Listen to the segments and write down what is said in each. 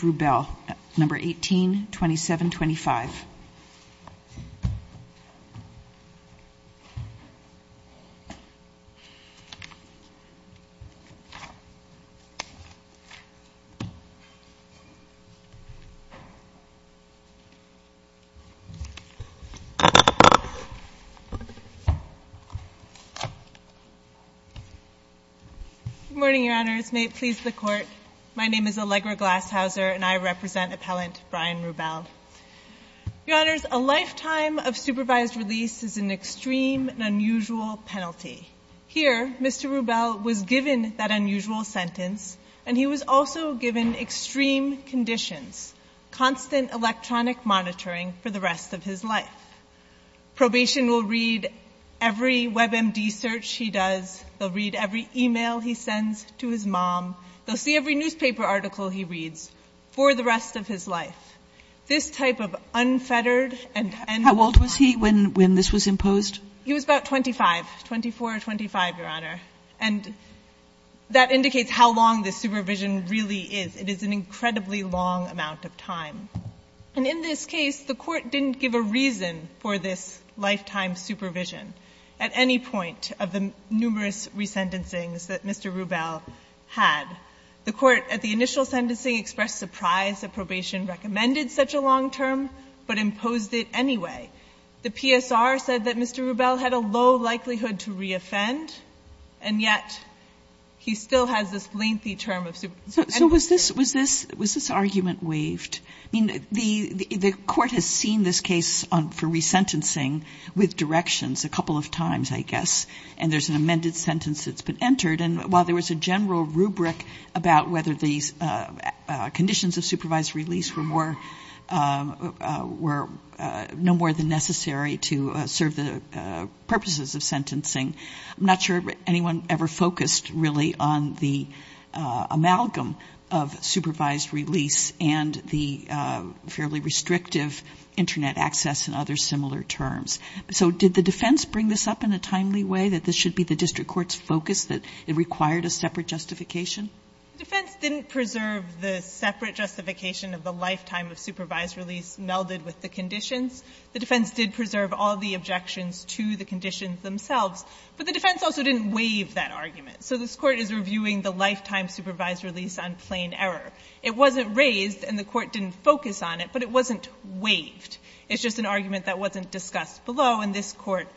Bell, No. 182725. Good morning, Your Honors. May it please the Court. My name is Allegra Glashauser, and I represent Appellant Brian Ru Bell. Your Honors, a lifetime of supervised release is an extreme and unusual penalty. Here, Mr. Ru Bell was given that unusual sentence, and he was also given extreme conditions, constant electronic monitoring for the rest of his life. Probation will read every WebMD search he does. They'll read every e-mail he sends to his mom. They'll see every newspaper article he reads for the rest of his life. This type of unfettered and end-of-life... How old was he when this was imposed? He was about 25, 24 or 25, Your Honor. And that indicates how long this supervision really is. It is an incredibly long amount of time. And in this case, the Court didn't give a reason for this lifetime supervision at any point of the numerous resentencings that Mr. Ru Bell had. The Court, at the initial sentencing, expressed surprise that probation recommended such a long term, but imposed it anyway. The PSR said that Mr. Ru Bell had a low likelihood to reoffend, and yet he still has this lengthy term of supervision. So was this argument waived? I mean, the Court has seen this case for resentencing with directions a couple of times, I guess, and there's an amended sentence that's been entered, and while there was a general rubric about whether these conditions of supervised release were more... were no more than necessary to serve the purposes of sentencing, I'm not sure anyone ever focused really on the amalgam of supervised release and the fairly restrictive Internet access and other similar terms. So did the defense bring this up in a timely way, that this should be the district court's focus, that it required a separate justification? The defense didn't preserve the separate justification of the lifetime of supervised release melded with the conditions. The defense did preserve all the objections to the conditions themselves, but the defense also didn't waive that argument. So this Court is reviewing the lifetime supervised release on plain error. It wasn't raised, and the Court didn't focus on it, but it wasn't waived. It's just an argument that wasn't discussed below, and this Court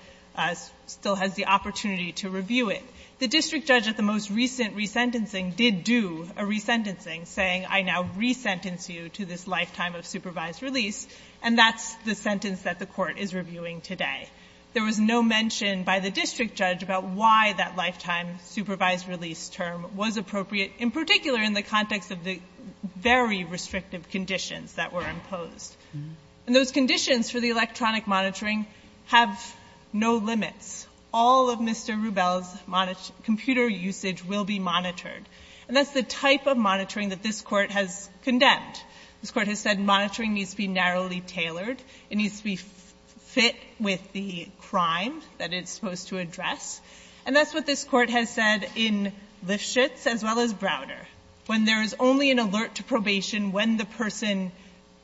still has the opportunity to review it. The district judge at the most recent resentencing did do a resentencing, saying, I now resentence you to this lifetime of supervised release. And that's the sentence that the Court is reviewing today. There was no mention by the district judge about why that lifetime supervised release term was appropriate, in particular in the context of the very restrictive conditions that were imposed. And those conditions for the electronic monitoring have no limits. All of Mr. Rubel's computer usage will be monitored. And that's the type of monitoring that this Court has condemned. This Court has said monitoring needs to be narrowly tailored. It needs to be fit with the crime that it's supposed to address. And that's what this Court has said in Lifshitz as well as Browder. When there is only an alert to probation when the person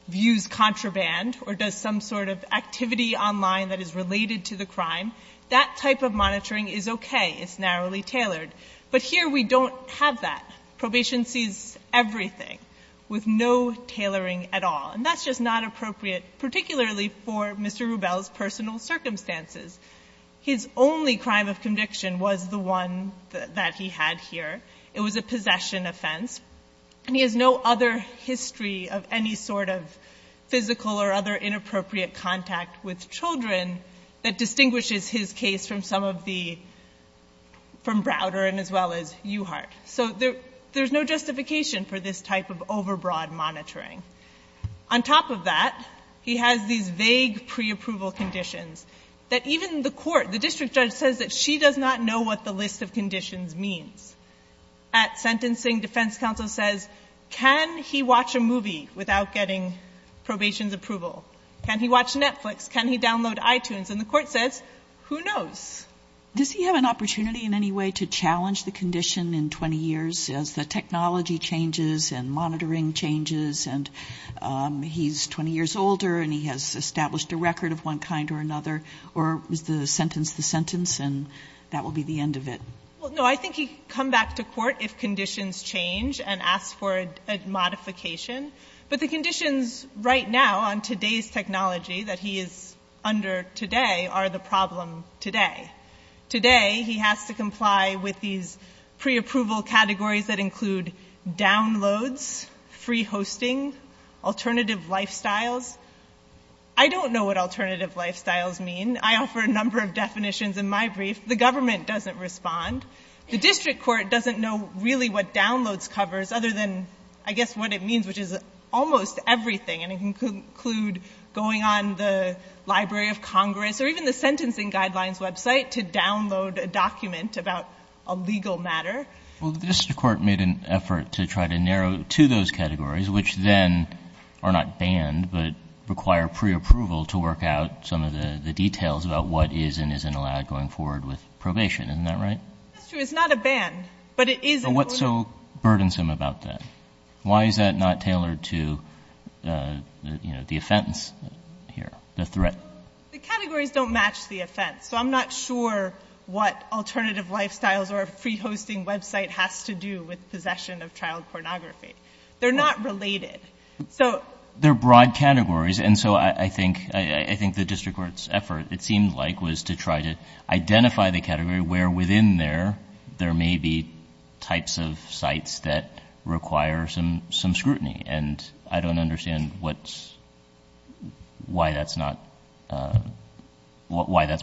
views contraband or does some sort of activity online that is related to the crime, that type of monitoring is okay. It's narrowly tailored. But here we don't have that. Probation sees everything with no tailoring at all. And that's just not appropriate, particularly for Mr. Rubel's personal circumstances. His only crime of conviction was the one that he had here. It was a possession offense. And he has no other history of any sort of physical or other inappropriate contact with children that distinguishes his case from some of the, from Browder and as well as Uhart. So there's no justification for this type of overbroad monitoring. On top of that, he has these vague preapproval conditions that even the court, the district judge says that she does not know what the list of conditions means. At sentencing, defense counsel says, can he watch a movie without getting probation's approval? Can he watch Netflix? Can he download iTunes? And the court says, who knows? Does he have an opportunity in any way to challenge the condition in 20 years as the technology changes and monitoring changes and he's 20 years older and he has established a record of one kind or another? Or is the sentence the sentence and that will be the end of it? Well, no. I think he can come back to court if conditions change and ask for a modification. But the conditions right now on today's technology that he is under today are the problem today. Today, he has to comply with these preapproval categories that include downloads, free hosting, alternative lifestyles. I don't know what alternative lifestyles mean. I offer a number of definitions in my brief. The government doesn't respond. The district court doesn't know really what downloads covers other than, I guess, what it means, which is almost everything. And it can conclude going on the Library of Congress or even the Sentencing Guidelines website to download a document about a legal matter. Well, the district court made an effort to try to narrow to those categories, which then are not banned but require preapproval to work out some of the details about what is and isn't allowed going forward with probation. Isn't that right? That's true. It's not a ban. But it is a rule. But what's so burdensome about that? Why is that not tailored to the offense here, the threat? The categories don't match the offense. So I'm not sure what alternative lifestyles or a free hosting website has to do with possession of child pornography. They're not related. They're broad categories. And so I think the district court's effort, it seemed like, was to try to identify the category where, within there, there may be types of sites that require some scrutiny. And I don't understand why that's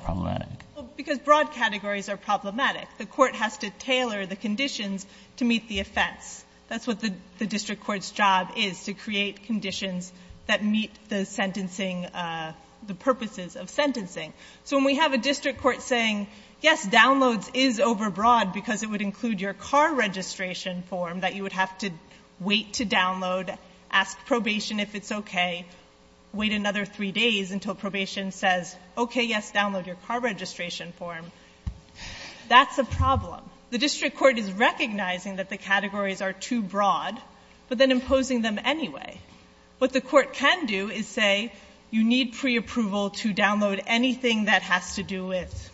problematic. Because broad categories are problematic. The court has to tailor the conditions to meet the offense. That's what the district court's job is, to create conditions that meet the purposes of sentencing. So when we have a district court saying, yes, downloads is overbroad because it would include your car registration form that you would have to wait to download, ask probation if it's okay, wait another three days until probation says, okay, yes, download your car registration form, that's a problem. The district court is recognizing that the categories are too broad but then imposing them anyway. What the court can do is say, you need preapproval to download anything that has to do with,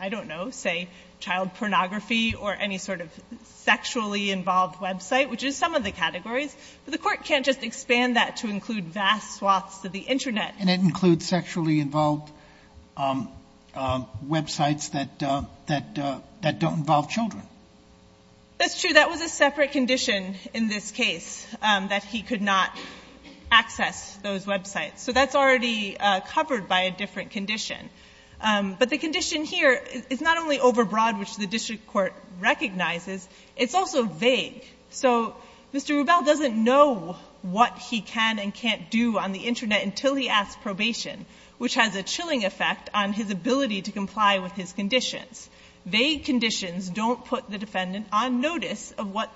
I don't know, say, child pornography or any sort of sexually involved website, which is some of the categories. But the court can't just expand that to include vast swaths of the Internet. And it includes sexually involved websites that don't involve children. That's true. But that was a separate condition in this case, that he could not access those websites. So that's already covered by a different condition. But the condition here is not only overbroad, which the district court recognizes, it's also vague. So Mr. Rubel doesn't know what he can and can't do on the Internet until he asks probation, which has a chilling effect on his ability to comply with his conditions. Vague conditions don't put the defendant on notice of what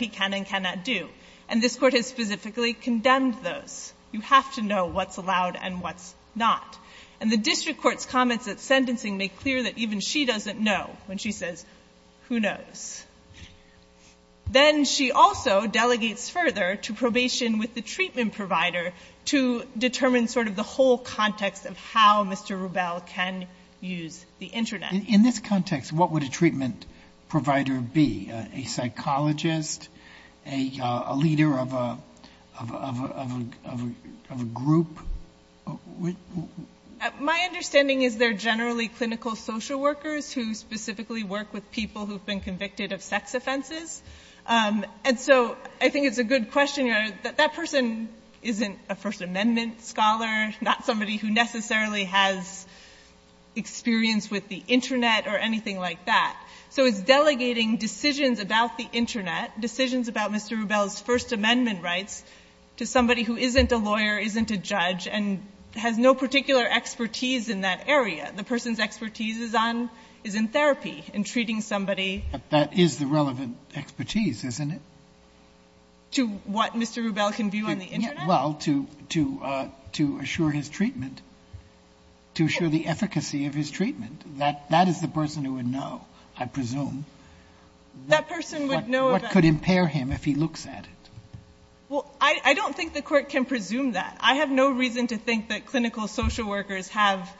he can and cannot do. And this court has specifically condemned those. You have to know what's allowed and what's not. And the district court's comments at sentencing make clear that even she doesn't know when she says, who knows. Then she also delegates further to probation with the treatment provider to determine sort of the whole context of how Mr. Rubel can use the Internet. In this context, what would a treatment provider be? A psychologist? A leader of a group? My understanding is they're generally clinical social workers who specifically work with people who've been convicted of sex offenses. And so I think it's a good question. That person isn't a First Amendment scholar, not somebody who necessarily has experience with the Internet or anything like that. So it's delegating decisions about the Internet, decisions about Mr. Rubel's First Amendment rights, to somebody who isn't a lawyer, isn't a judge, and has no particular expertise in that area. The person's expertise is in therapy, in treating somebody. But that is the relevant expertise, isn't it? To what Mr. Rubel can view on the Internet? Well, to assure his treatment, to assure the efficacy of his treatment. That is the person who would know, I presume, what could impair him if he looks at it. Well, I don't think the Court can presume that. I have no reason to think that clinical social workers have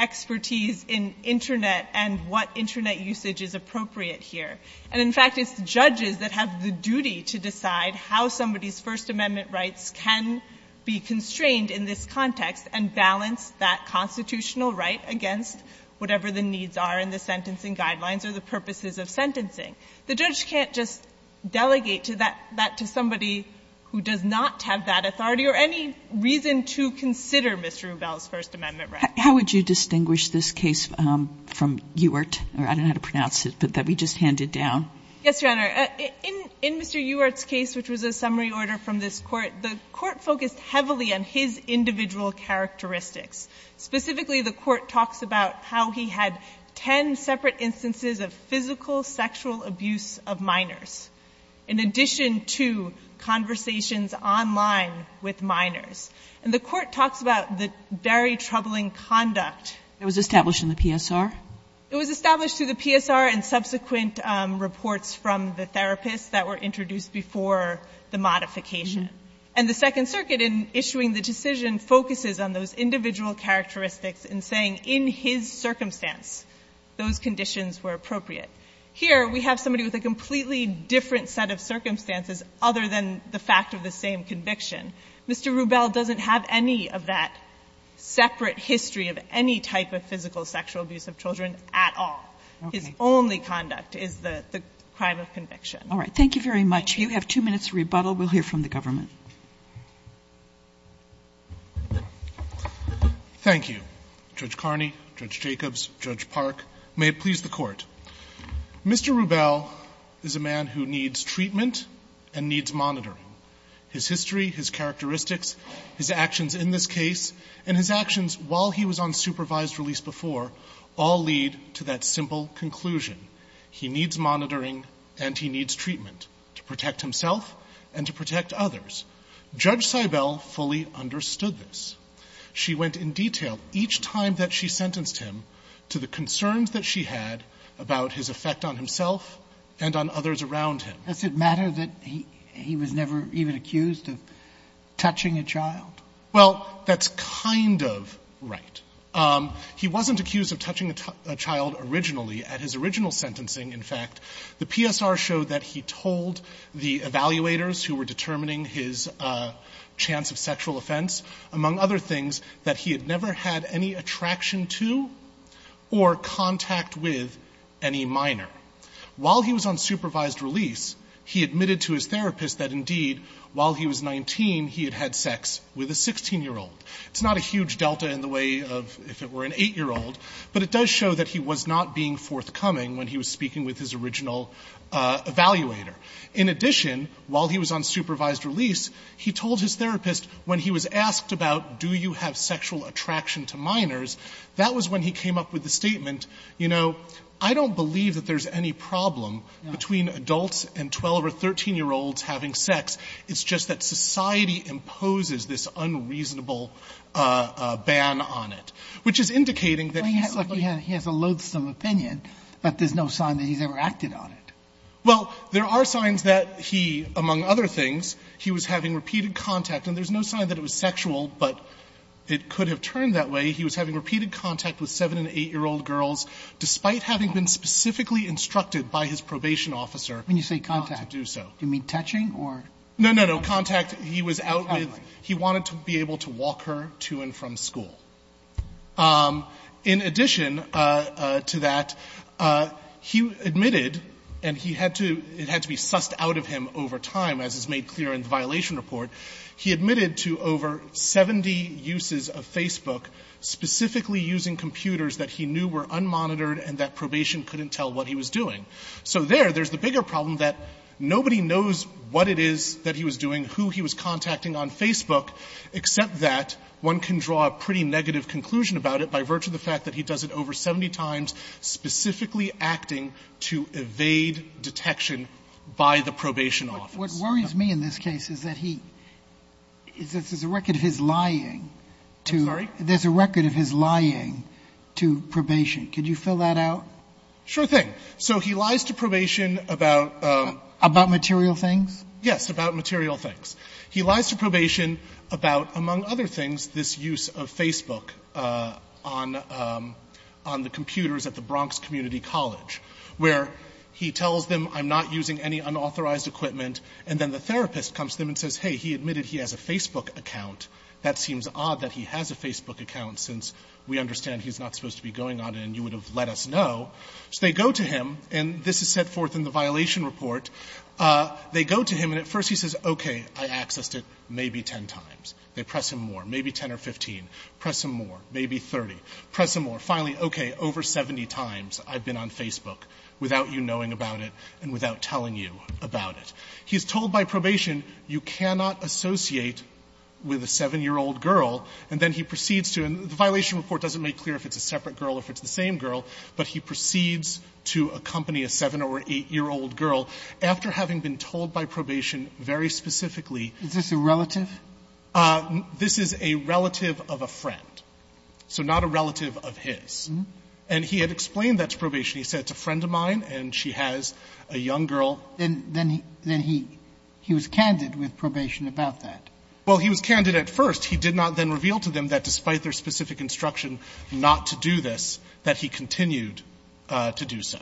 expertise in Internet and what Internet usage is appropriate here. And, in fact, it's the judges that have the duty to decide how somebody's First Amendment rights can be constrained in this context and balance that constitutional right against whatever the needs are in the sentencing guidelines or the purposes of sentencing. The judge can't just delegate that to somebody who does not have that authority or any reason to consider Mr. Rubel's First Amendment rights. How would you distinguish this case from Ewert, or I don't know how to pronounce it, but that we just handed down? Yes, Your Honor. In Mr. Ewert's case, which was a summary order from this Court, the Court focused heavily on his individual characteristics. Specifically, the Court talks about how he had 10 separate instances of physical sexual abuse of minors, in addition to conversations online with minors. And the Court talks about the very troubling conduct. It was established in the PSR? And subsequent reports from the therapists that were introduced before the modification. And the Second Circuit, in issuing the decision, focuses on those individual characteristics and saying, in his circumstance, those conditions were appropriate. Here, we have somebody with a completely different set of circumstances other than the fact of the same conviction. Mr. Rubel doesn't have any of that separate history of any type of physical sexual abuse of children at all. Okay. His only conduct is the crime of conviction. All right. Thank you very much. You have two minutes to rebuttal. We'll hear from the government. Thank you, Judge Carney, Judge Jacobs, Judge Park. May it please the Court. Mr. Rubel is a man who needs treatment and needs monitoring. His history, his characteristics, his actions in this case, and his actions while he was on supervised release before all lead to that simple conclusion. He needs monitoring and he needs treatment to protect himself and to protect others. Judge Seibel fully understood this. She went in detail each time that she sentenced him to the concerns that she had about his effect on himself and on others around him. Does it matter that he was never even accused of touching a child? Well, that's kind of right. He wasn't accused of touching a child originally. At his original sentencing, in fact, the PSR showed that he told the evaluators who were determining his chance of sexual offense, among other things, that he had never had any attraction to or contact with any minor. While he was on supervised release, he admitted to his therapist that, indeed, while he was 19, he had had sex with a 16-year-old. It's not a huge delta in the way of, if it were, an 8-year-old, but it does show that he was not being forthcoming when he was speaking with his original evaluator. In addition, while he was on supervised release, he told his therapist, when he was asked about do you have sexual attraction to minors, that was when he came up with the statement, you know, I don't believe that there's any problem between adults and 12- or 13-year-olds having sex. It's just that society imposes this unreasonable ban on it, which is indicating that he's simply going to have sex with minors. He has a loathsome opinion, but there's no sign that he's ever acted on it. Well, there are signs that he, among other things, he was having repeated contact. And there's no sign that it was sexual, but it could have turned that way. He was having repeated contact with 7- and 8-year-old girls, despite having been specifically instructed by his probation officer not to do so. Do you mean touching or? No, no, no. Contact he was out with. He wanted to be able to walk her to and from school. In addition to that, he admitted, and he had to be sussed out of him over time, as is made clear in the violation report, he admitted to over 70 uses of Facebook, specifically using computers that he knew were unmonitored and that probation couldn't tell what he was doing. So there, there's the bigger problem that nobody knows what it is that he was doing, who he was contacting on Facebook, except that one can draw a pretty negative conclusion about it by virtue of the fact that he does it over 70 times, specifically acting to evade detection by the probation office. What worries me in this case is that he, there's a record of his lying to. I'm sorry? There's a record of his lying to probation. Could you fill that out? Sure thing. So he lies to probation about... About material things? Yes, about material things. He lies to probation about, among other things, this use of Facebook on the computers at the Bronx Community College, where he tells them, I'm not using any unauthorized equipment, and then the therapist comes to them and says, hey, he admitted he has a Facebook account. That seems odd that he has a Facebook account, since we understand he's not supposed to be going on it, and you would have let us know. So they go to him, and this is set forth in the violation report. They go to him, and at first he says, okay, I accessed it maybe 10 times. They press him more, maybe 10 or 15, press him more, maybe 30, press him more. Finally, okay, over 70 times I've been on Facebook without you knowing about it and without telling you about it. He's told by probation, you cannot associate with a 7-year-old girl, and then he proceeds to, and the violation report doesn't make clear if it's a separate girl or if it's the same girl, but he proceeds to accompany a 7- or 8-year-old girl. After having been told by probation very specifically. Sotomayor, is this a relative? This is a relative of a friend, so not a relative of his. And he had explained that to probation. He said, it's a friend of mine, and she has a young girl. Then he was candid with probation about that. Well, he was candid at first. He did not then reveal to them that despite their specific instruction not to do this, that he continued to do so.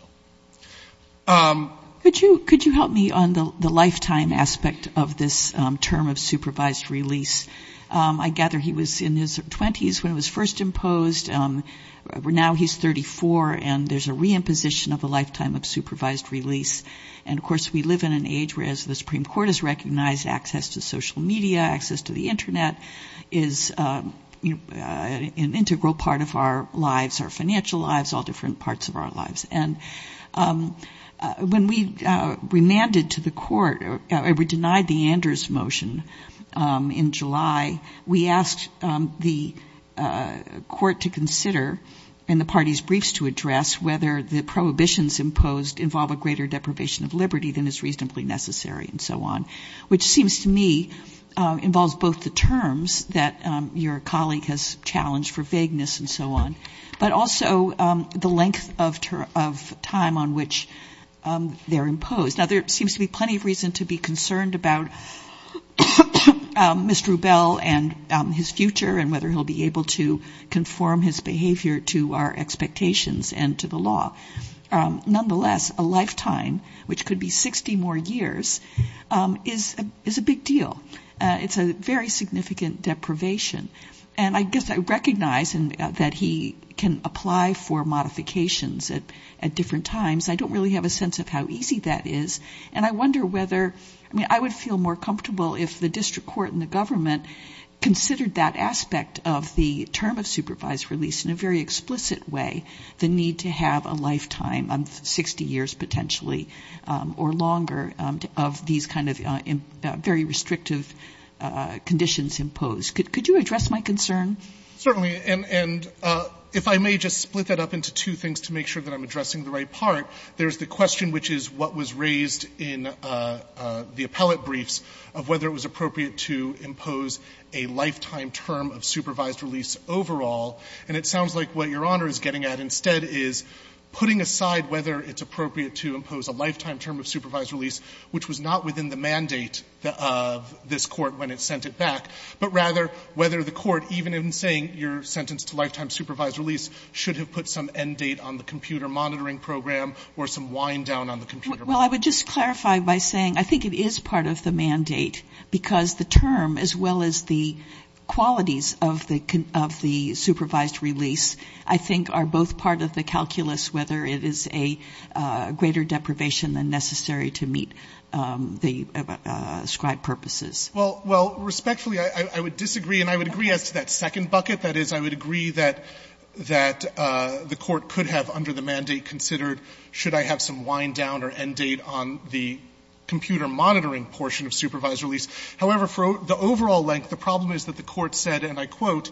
Could you help me on the lifetime aspect of this term of supervised release? I gather he was in his 20s when it was first imposed. Now he's 34, and there's a reimposition of a lifetime of supervised release. And, of course, we live in an age where, as the Supreme Court has recognized, access to social media, access to the Internet is an integral part of our lives, our financial lives, all different parts of our lives. And when we remanded to the court, or we denied the Anders motion in July, we asked the court to consider, and the party's briefs to address, whether the prohibitions imposed involve a greater deprivation of liberty than is reasonably necessary and so on. Which seems to me involves both the terms that your colleague has challenged for vagueness and so on, but also the length of time on which they're imposed. Now, there seems to be plenty of reason to be concerned about Mr. Rubel and his future and whether he'll be able to conform his behavior to our expectations and to the law. Nonetheless, a lifetime, which could be 60 more years, is a big deal. It's a very significant deprivation. And I guess I recognize that he can apply for modifications at different times. I don't really have a sense of how easy that is. And I wonder whether, I mean, I would feel more comfortable if the district court and the government considered that aspect of the term of supervised release in a very explicit way, the need to have a lifetime of 60 years potentially or longer of these kind of very restrictive conditions imposed. Could you address my concern? Fisherman. Certainly. And if I may just split that up into two things to make sure that I'm addressing the right part. There's the question, which is what was raised in the appellate briefs, of whether it was appropriate to impose a lifetime term of supervised release overall. And it sounds like what Your Honor is getting at instead is putting aside whether it's appropriate to impose a lifetime term of supervised release, which was not within the mandate of this Court when it sent it back, but rather whether the Court, even in saying you're sentenced to lifetime supervised release, should have put some end date on the computer monitoring program or some wind down on the computer. Well, I would just clarify by saying I think it is part of the mandate because the term as well as the qualities of the supervised release I think are both part of the calculus whether it is a greater deprivation than necessary to meet the ascribed purposes. Well, respectfully, I would disagree. And I would agree as to that second bucket. That is, I would agree that the Court could have under the mandate considered should I have some wind down or end date on the computer monitoring portion of supervised release, however, for the overall length the problem is that the Court said, and I quote,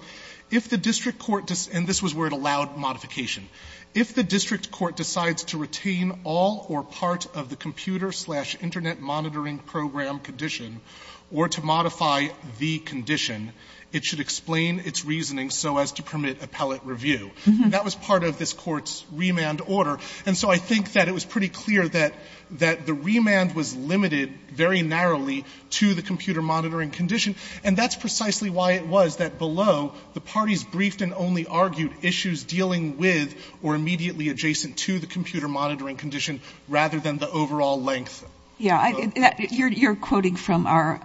if the district court, and this was where it allowed modification, if the district court decides to retain all or part of the computer-slash-internet-monitoring-program condition or to modify the condition, it should explain its reasoning so as to permit appellate review. That was part of this Court's remand order. And so I think that it was pretty clear that the remand was limited very narrowly to the computer-monitoring condition. And that is precisely why it was that below the parties briefed and only argued issues dealing with or immediately adjacent to the computer-monitoring condition rather than the overall length. Yeah. You are quoting from our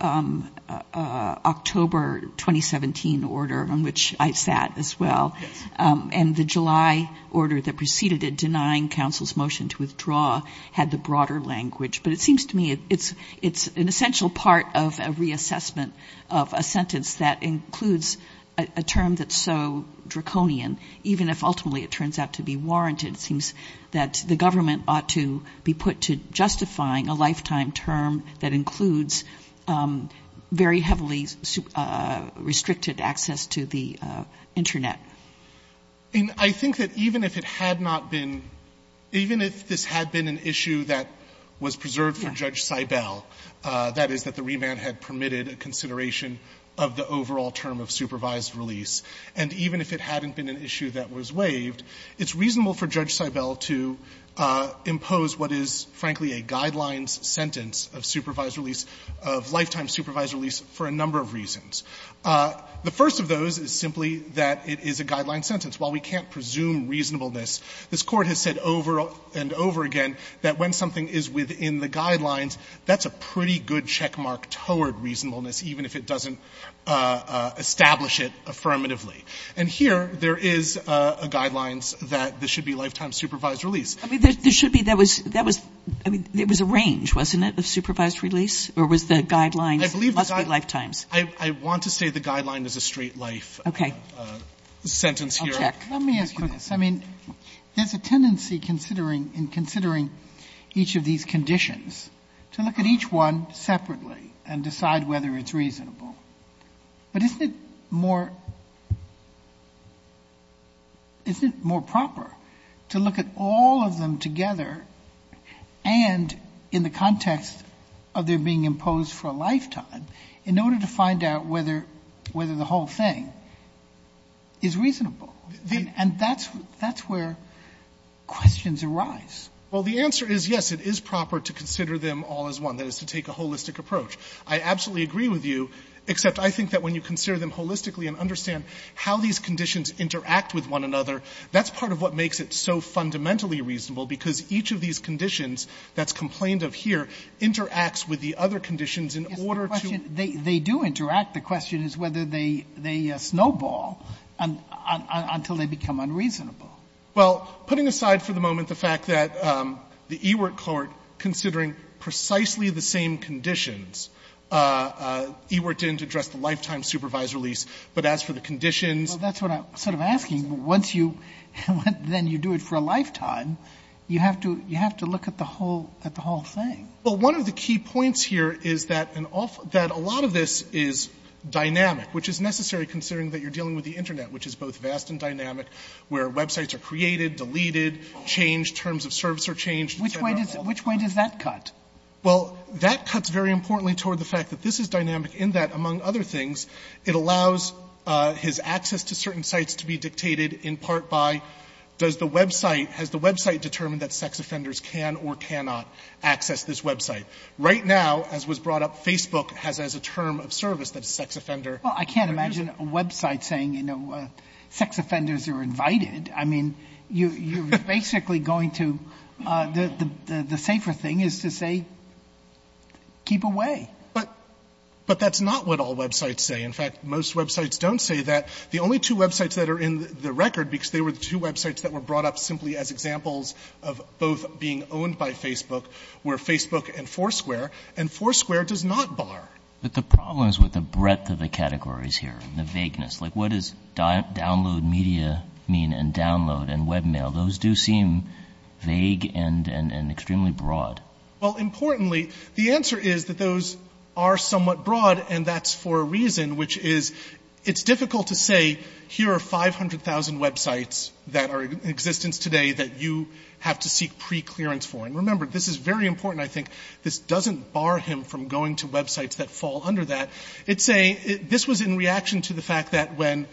October 2017 order on which I sat as well. Yes. And the July order that preceded it denying counsel's motion to withdraw had the broader language. But it seems to me it's an essential part of a reassessment of a sentence that includes a term that's so draconian, even if ultimately it turns out to be warranted. It seems that the government ought to be put to justifying a lifetime term that includes very heavily restricted access to the Internet. And I think that even if it had not been, even if this had been an issue that was preserved for Judge Seibel, that is, that the remand had permitted a consideration of the overall term of supervised release, and even if it hadn't been an issue that was waived, it's reasonable for Judge Seibel to impose what is, frankly, a guidelines sentence of supervised release, of lifetime supervised release for a number of reasons. The first of those is simply that it is a guidelines sentence. While we can't presume reasonableness, this Court has said over and over again that when something is within the guidelines, that's a pretty good checkmark toward reasonableness, even if it doesn't establish it affirmatively. And here there is a guidelines that this should be lifetime supervised release. I mean, there should be. There was a range, wasn't it, of supervised release? Or was the guidelines must be lifetimes? I want to say the guideline is a straight life sentence here. Okay. I'll check. Let me ask you this. I mean, there's a tendency in considering each of these conditions to look at each one separately and decide whether it's reasonable. But isn't it more proper to look at all of them together and in the context of their being imposed for a lifetime in order to find out whether the whole thing is reasonable? And that's where questions arise. Well, the answer is, yes, it is proper to consider them all as one, that is, to take a holistic approach. I absolutely agree with you, except I think that when you consider them holistically and understand how these conditions interact with one another, that's part of what makes it so fundamentally reasonable, because each of these conditions that's Yes, the question, they do interact. The question is whether they snowball until they become unreasonable. Well, putting aside for the moment the fact that the Ewert Court, considering precisely the same conditions, Ewert didn't address the lifetime supervised release, but as for the conditions. Well, that's what I'm sort of asking. Once you, then you do it for a lifetime, you have to look at the whole thing. Well, one of the key points here is that a lot of this is dynamic, which is necessary considering that you're dealing with the Internet, which is both vast and dynamic, where websites are created, deleted, changed, terms of service are changed. Which way does that cut? Well, that cuts very importantly toward the fact that this is dynamic in that, among other things, it allows his access to certain sites to be dictated in part by does the website, has the website determined that sex offenders can or cannot access this website. Right now, as was brought up, Facebook has as a term of service that a sex offender Well, I can't imagine a website saying, you know, sex offenders are invited. I mean, you're basically going to, the safer thing is to say keep away. But that's not what all websites say. In fact, most websites don't say that. The only two websites that are in the record, because they were the two websites that were brought up simply as examples of both being owned by Facebook, were Facebook and Foursquare, and Foursquare does not bar. But the problem is with the breadth of the categories here, the vagueness. Like, what does download media mean and download and web mail? Those do seem vague and extremely broad. Well, importantly, the answer is that those are somewhat broad, and that's for a reason, which is it's difficult to say, here are 500,000 websites that are in existence today that you have to seek preclearance for. And remember, this is very important, I think. This doesn't bar him from going to websites that fall under that. It's a, this was in reaction to the fact that when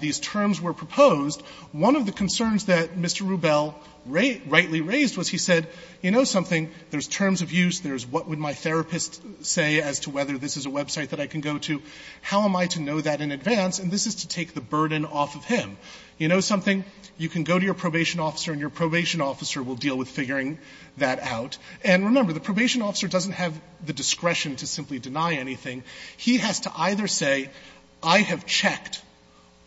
these terms were proposed, one of the concerns that Mr. Rubel rightly raised was he said, you know something, there's terms of use, there's what would my therapist say as to whether this is a website that I can go to. How am I to know that in advance? And this is to take the burden off of him. You know something? You can go to your probation officer and your probation officer will deal with figuring that out. And remember, the probation officer doesn't have the discretion to simply deny anything. He has to either say, I have checked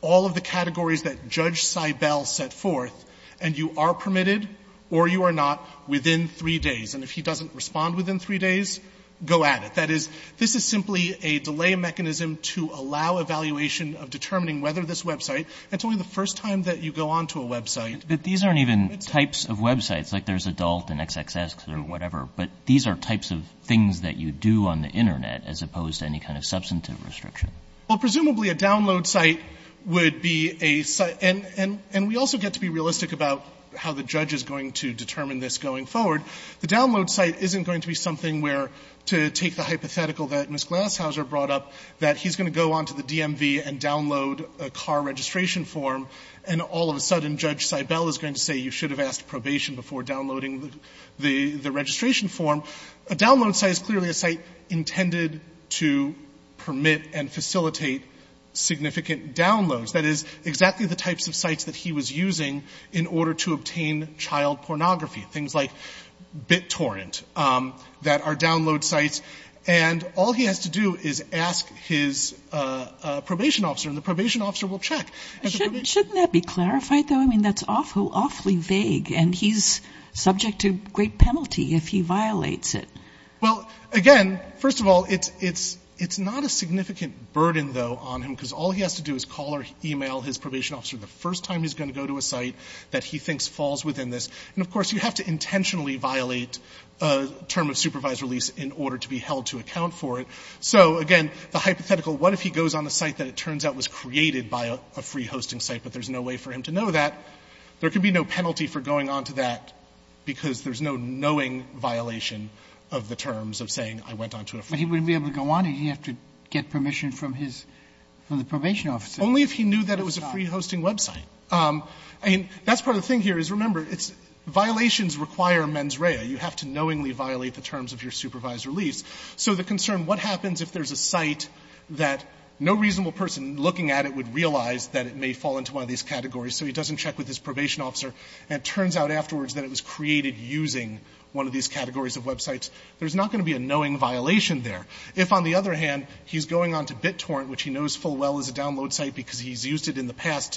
all of the categories that Judge Seibel set forth, and you are permitted or you are not within three days. And if he doesn't respond within three days, go at it. That is, this is simply a delay mechanism to allow evaluation of determining whether this website, and it's only the first time that you go onto a website. But these aren't even types of websites. Like there's adult and XXX or whatever. But these are types of things that you do on the Internet as opposed to any kind of substantive restriction. Well, presumably a download site would be a site, and we also get to be realistic about how the judge is going to determine this going forward. The download site isn't going to be something where, to take the hypothetical that Ms. Glashauser brought up, that he's going to go onto the DMV and download a car registration form, and all of a sudden Judge Seibel is going to say you should have asked probation before downloading the registration form. A download site is clearly a site intended to permit and facilitate significant downloads. That is, exactly the types of sites that he was using in order to obtain child pornography. Things like BitTorrent that are download sites. And all he has to do is ask his probation officer, and the probation officer will check. Shouldn't that be clarified, though? I mean, that's awfully vague, and he's subject to great penalty if he violates it. Well, again, first of all, it's not a significant burden, though, on him because all he has to do is call or email his probation officer the first time he's going to go to a site that he thinks falls within this. And, of course, you have to intentionally violate a term of supervised release in order to be held to account for it. So, again, the hypothetical, what if he goes on a site that it turns out was created by a free hosting site, but there's no way for him to know that, there could be no penalty for going onto that because there's no knowing violation of the terms of saying I went onto a free hosting site. But he wouldn't be able to go on it. He'd have to get permission from his – from the probation officer. Only if he knew that it was a free hosting website. I mean, that's part of the thing here is, remember, it's – violations require mens rea. You have to knowingly violate the terms of your supervised release. So the concern, what happens if there's a site that no reasonable person looking at it would realize that it may fall into one of these categories, so he doesn't check with his probation officer, and it turns out afterwards that it was created using one of these categories of websites. There's not going to be a knowing violation there. If, on the other hand, he's going onto BitTorrent, which he knows full well is a site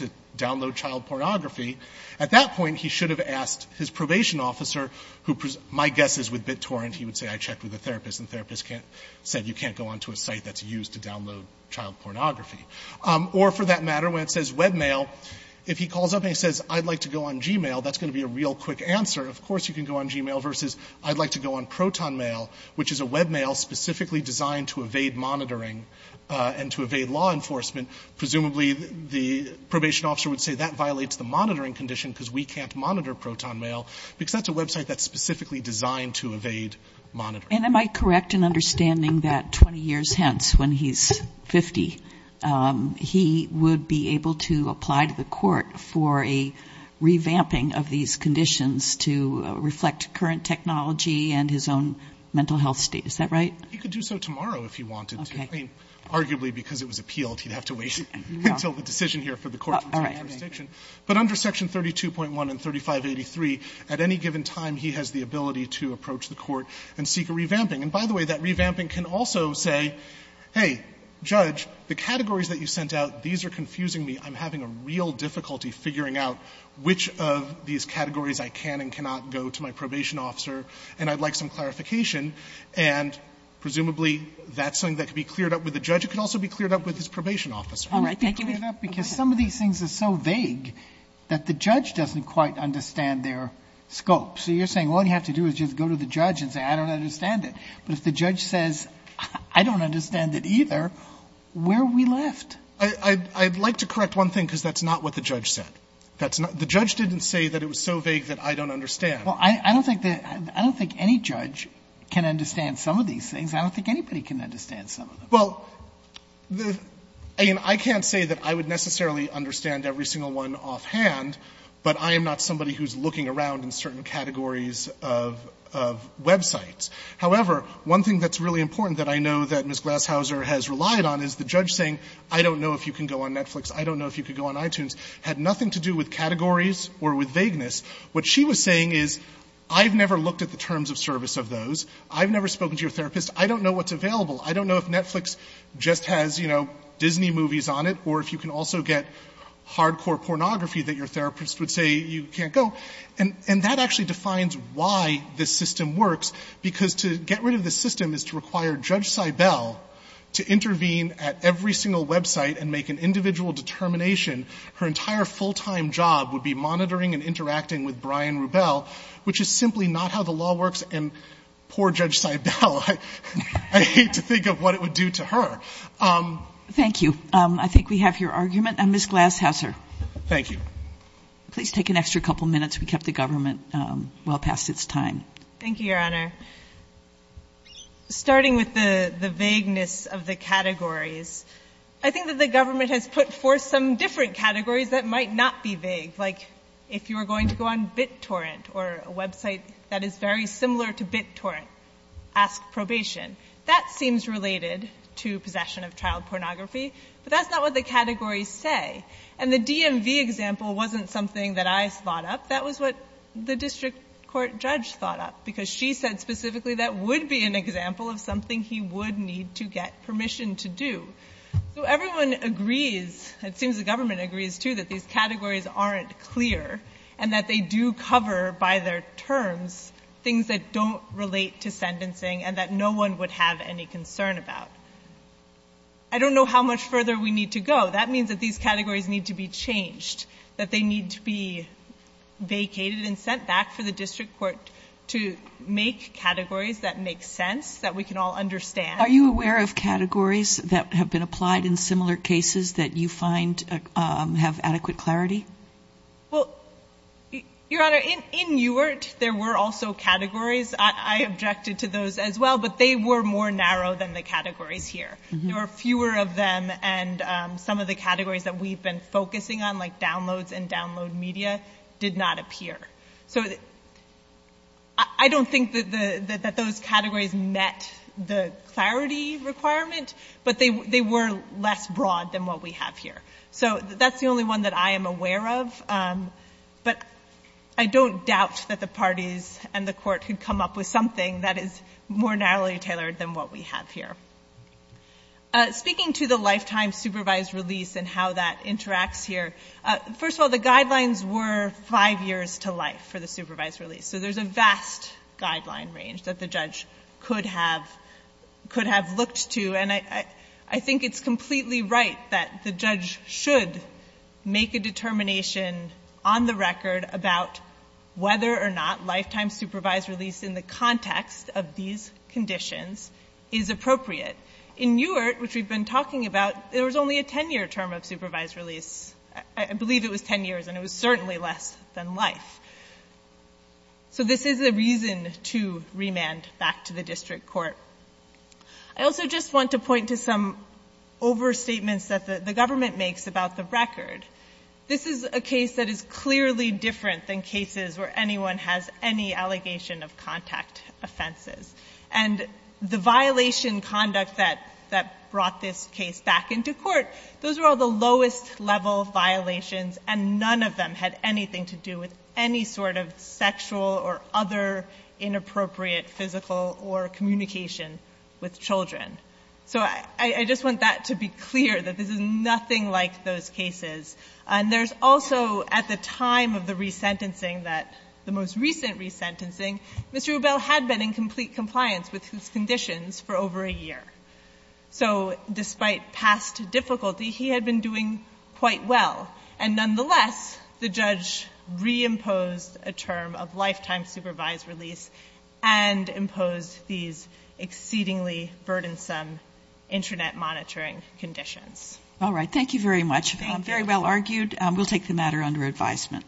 to download child pornography, at that point he should have asked his probation officer, who – my guess is with BitTorrent he would say I checked with a therapist and the therapist said you can't go onto a site that's used to download child pornography. Or for that matter, when it says webmail, if he calls up and he says I'd like to go on Gmail, that's going to be a real quick answer. Of course you can go on Gmail versus I'd like to go on ProtonMail, which is a webmail specifically designed to evade monitoring and to evade law enforcement. Presumably the probation officer would say that violates the monitoring condition because we can't monitor ProtonMail because that's a website that's specifically designed to evade monitoring. And am I correct in understanding that 20 years hence, when he's 50, he would be able to apply to the court for a revamping of these conditions to reflect current technology and his own mental health state. Is that right? He could do so tomorrow if he wanted to. Okay. Arguably because it was appealed, he'd have to wait until the decision here for the court to make a decision. But under section 32.1 and 3583, at any given time he has the ability to approach the court and seek a revamping. And by the way, that revamping can also say, hey, Judge, the categories that you sent out, these are confusing me. I'm having a real difficulty figuring out which of these categories I can and cannot go to my probation officer and I'd like some clarification. And presumably that's something that could be cleared up with the judge. It could also be cleared up with his probation officer. All right. Thank you. Because some of these things are so vague that the judge doesn't quite understand their scope. So you're saying all you have to do is just go to the judge and say, I don't understand it. But if the judge says, I don't understand it either, where are we left? I'd like to correct one thing because that's not what the judge said. The judge didn't say that it was so vague that I don't understand. Well, I don't think any judge can understand some of these things. I don't think anybody can understand some of them. Well, I can't say that I would necessarily understand every single one offhand, but I am not somebody who's looking around in certain categories of websites. However, one thing that's really important that I know that Ms. Glashauser has relied on is the judge saying, I don't know if you can go on Netflix, I don't know if you can go on iTunes, had nothing to do with categories or with vagueness. What she was saying is, I've never looked at the terms of service of those. I've never spoken to your therapist. I don't know what's available. I don't know if Netflix just has Disney movies on it, or if you can also get hardcore pornography that your therapist would say you can't go. And that actually defines why this system works. Because to get rid of the system is to require Judge Seibel to intervene at every single website and make an individual determination. Her entire full-time job would be monitoring and interacting with Brian Rubel, which is simply not how the law works. And poor Judge Seibel. I hate to think of what it would do to her. Thank you. I think we have your argument. Ms. Glashauser. Thank you. Please take an extra couple minutes. We kept the government well past its time. Thank you, Your Honor. Starting with the vagueness of the categories, I think that the government has put forth some different categories that might not be vague, like if you were going to go on BitTorrent, or a website that is very similar to BitTorrent, ask probation. That seems related to possession of child pornography, but that's not what the categories say. And the DMV example wasn't something that I thought up. That was what the district court judge thought up, because she said specifically that would be an example of something he would need to get permission to do. So everyone agrees, it seems the government agrees, too, that these categories aren't clear and that they do cover by their terms things that don't relate to sentencing and that no one would have any concern about. I don't know how much further we need to go. That means that these categories need to be changed, that they need to be vacated and sent back for the district court to make categories that make sense, that we can all understand. Are you aware of categories that have been applied in similar cases that you find have adequate clarity? Well, Your Honor, in UART there were also categories. I objected to those as well, but they were more narrow than the categories here. There were fewer of them, and some of the categories that we've been focusing on, like downloads and download media, did not appear. So I don't think that those categories met the clarity requirement, but they were less broad than what we have here. So that's the only one that I am aware of, but I don't doubt that the parties and the court could come up with something that is more narrowly tailored than what we have here. Speaking to the lifetime supervised release and how that interacts here, first of all, the guidelines were five years to life for the supervised release. So there's a vast guideline range that the judge could have looked to. And I think it's completely right that the judge should make a determination on the record about whether or not lifetime supervised release in the context of these conditions is appropriate. In UART, which we've been talking about, there was only a 10-year term of supervised release. I believe it was 10 years, and it was certainly less than life. So this is a reason to remand back to the district court. I also just want to point to some overstatements that the government makes about the record. This is a case that is clearly different than cases where anyone has any allegation of contact offenses. And the violation conduct that brought this case back into court, those were all lowest-level violations, and none of them had anything to do with any sort of sexual or other inappropriate physical or communication with children. So I just want that to be clear, that this is nothing like those cases. And there's also, at the time of the resentencing that the most recent resentencing, Mr. Hubel had been in complete compliance with his conditions for over a year. So despite past difficulty, he had been doing quite well. And nonetheless, the judge reimposed a term of lifetime supervised release and imposed these exceedingly burdensome internet monitoring conditions. All right. Thank you very much. Very well argued. We'll take the matter under advisement.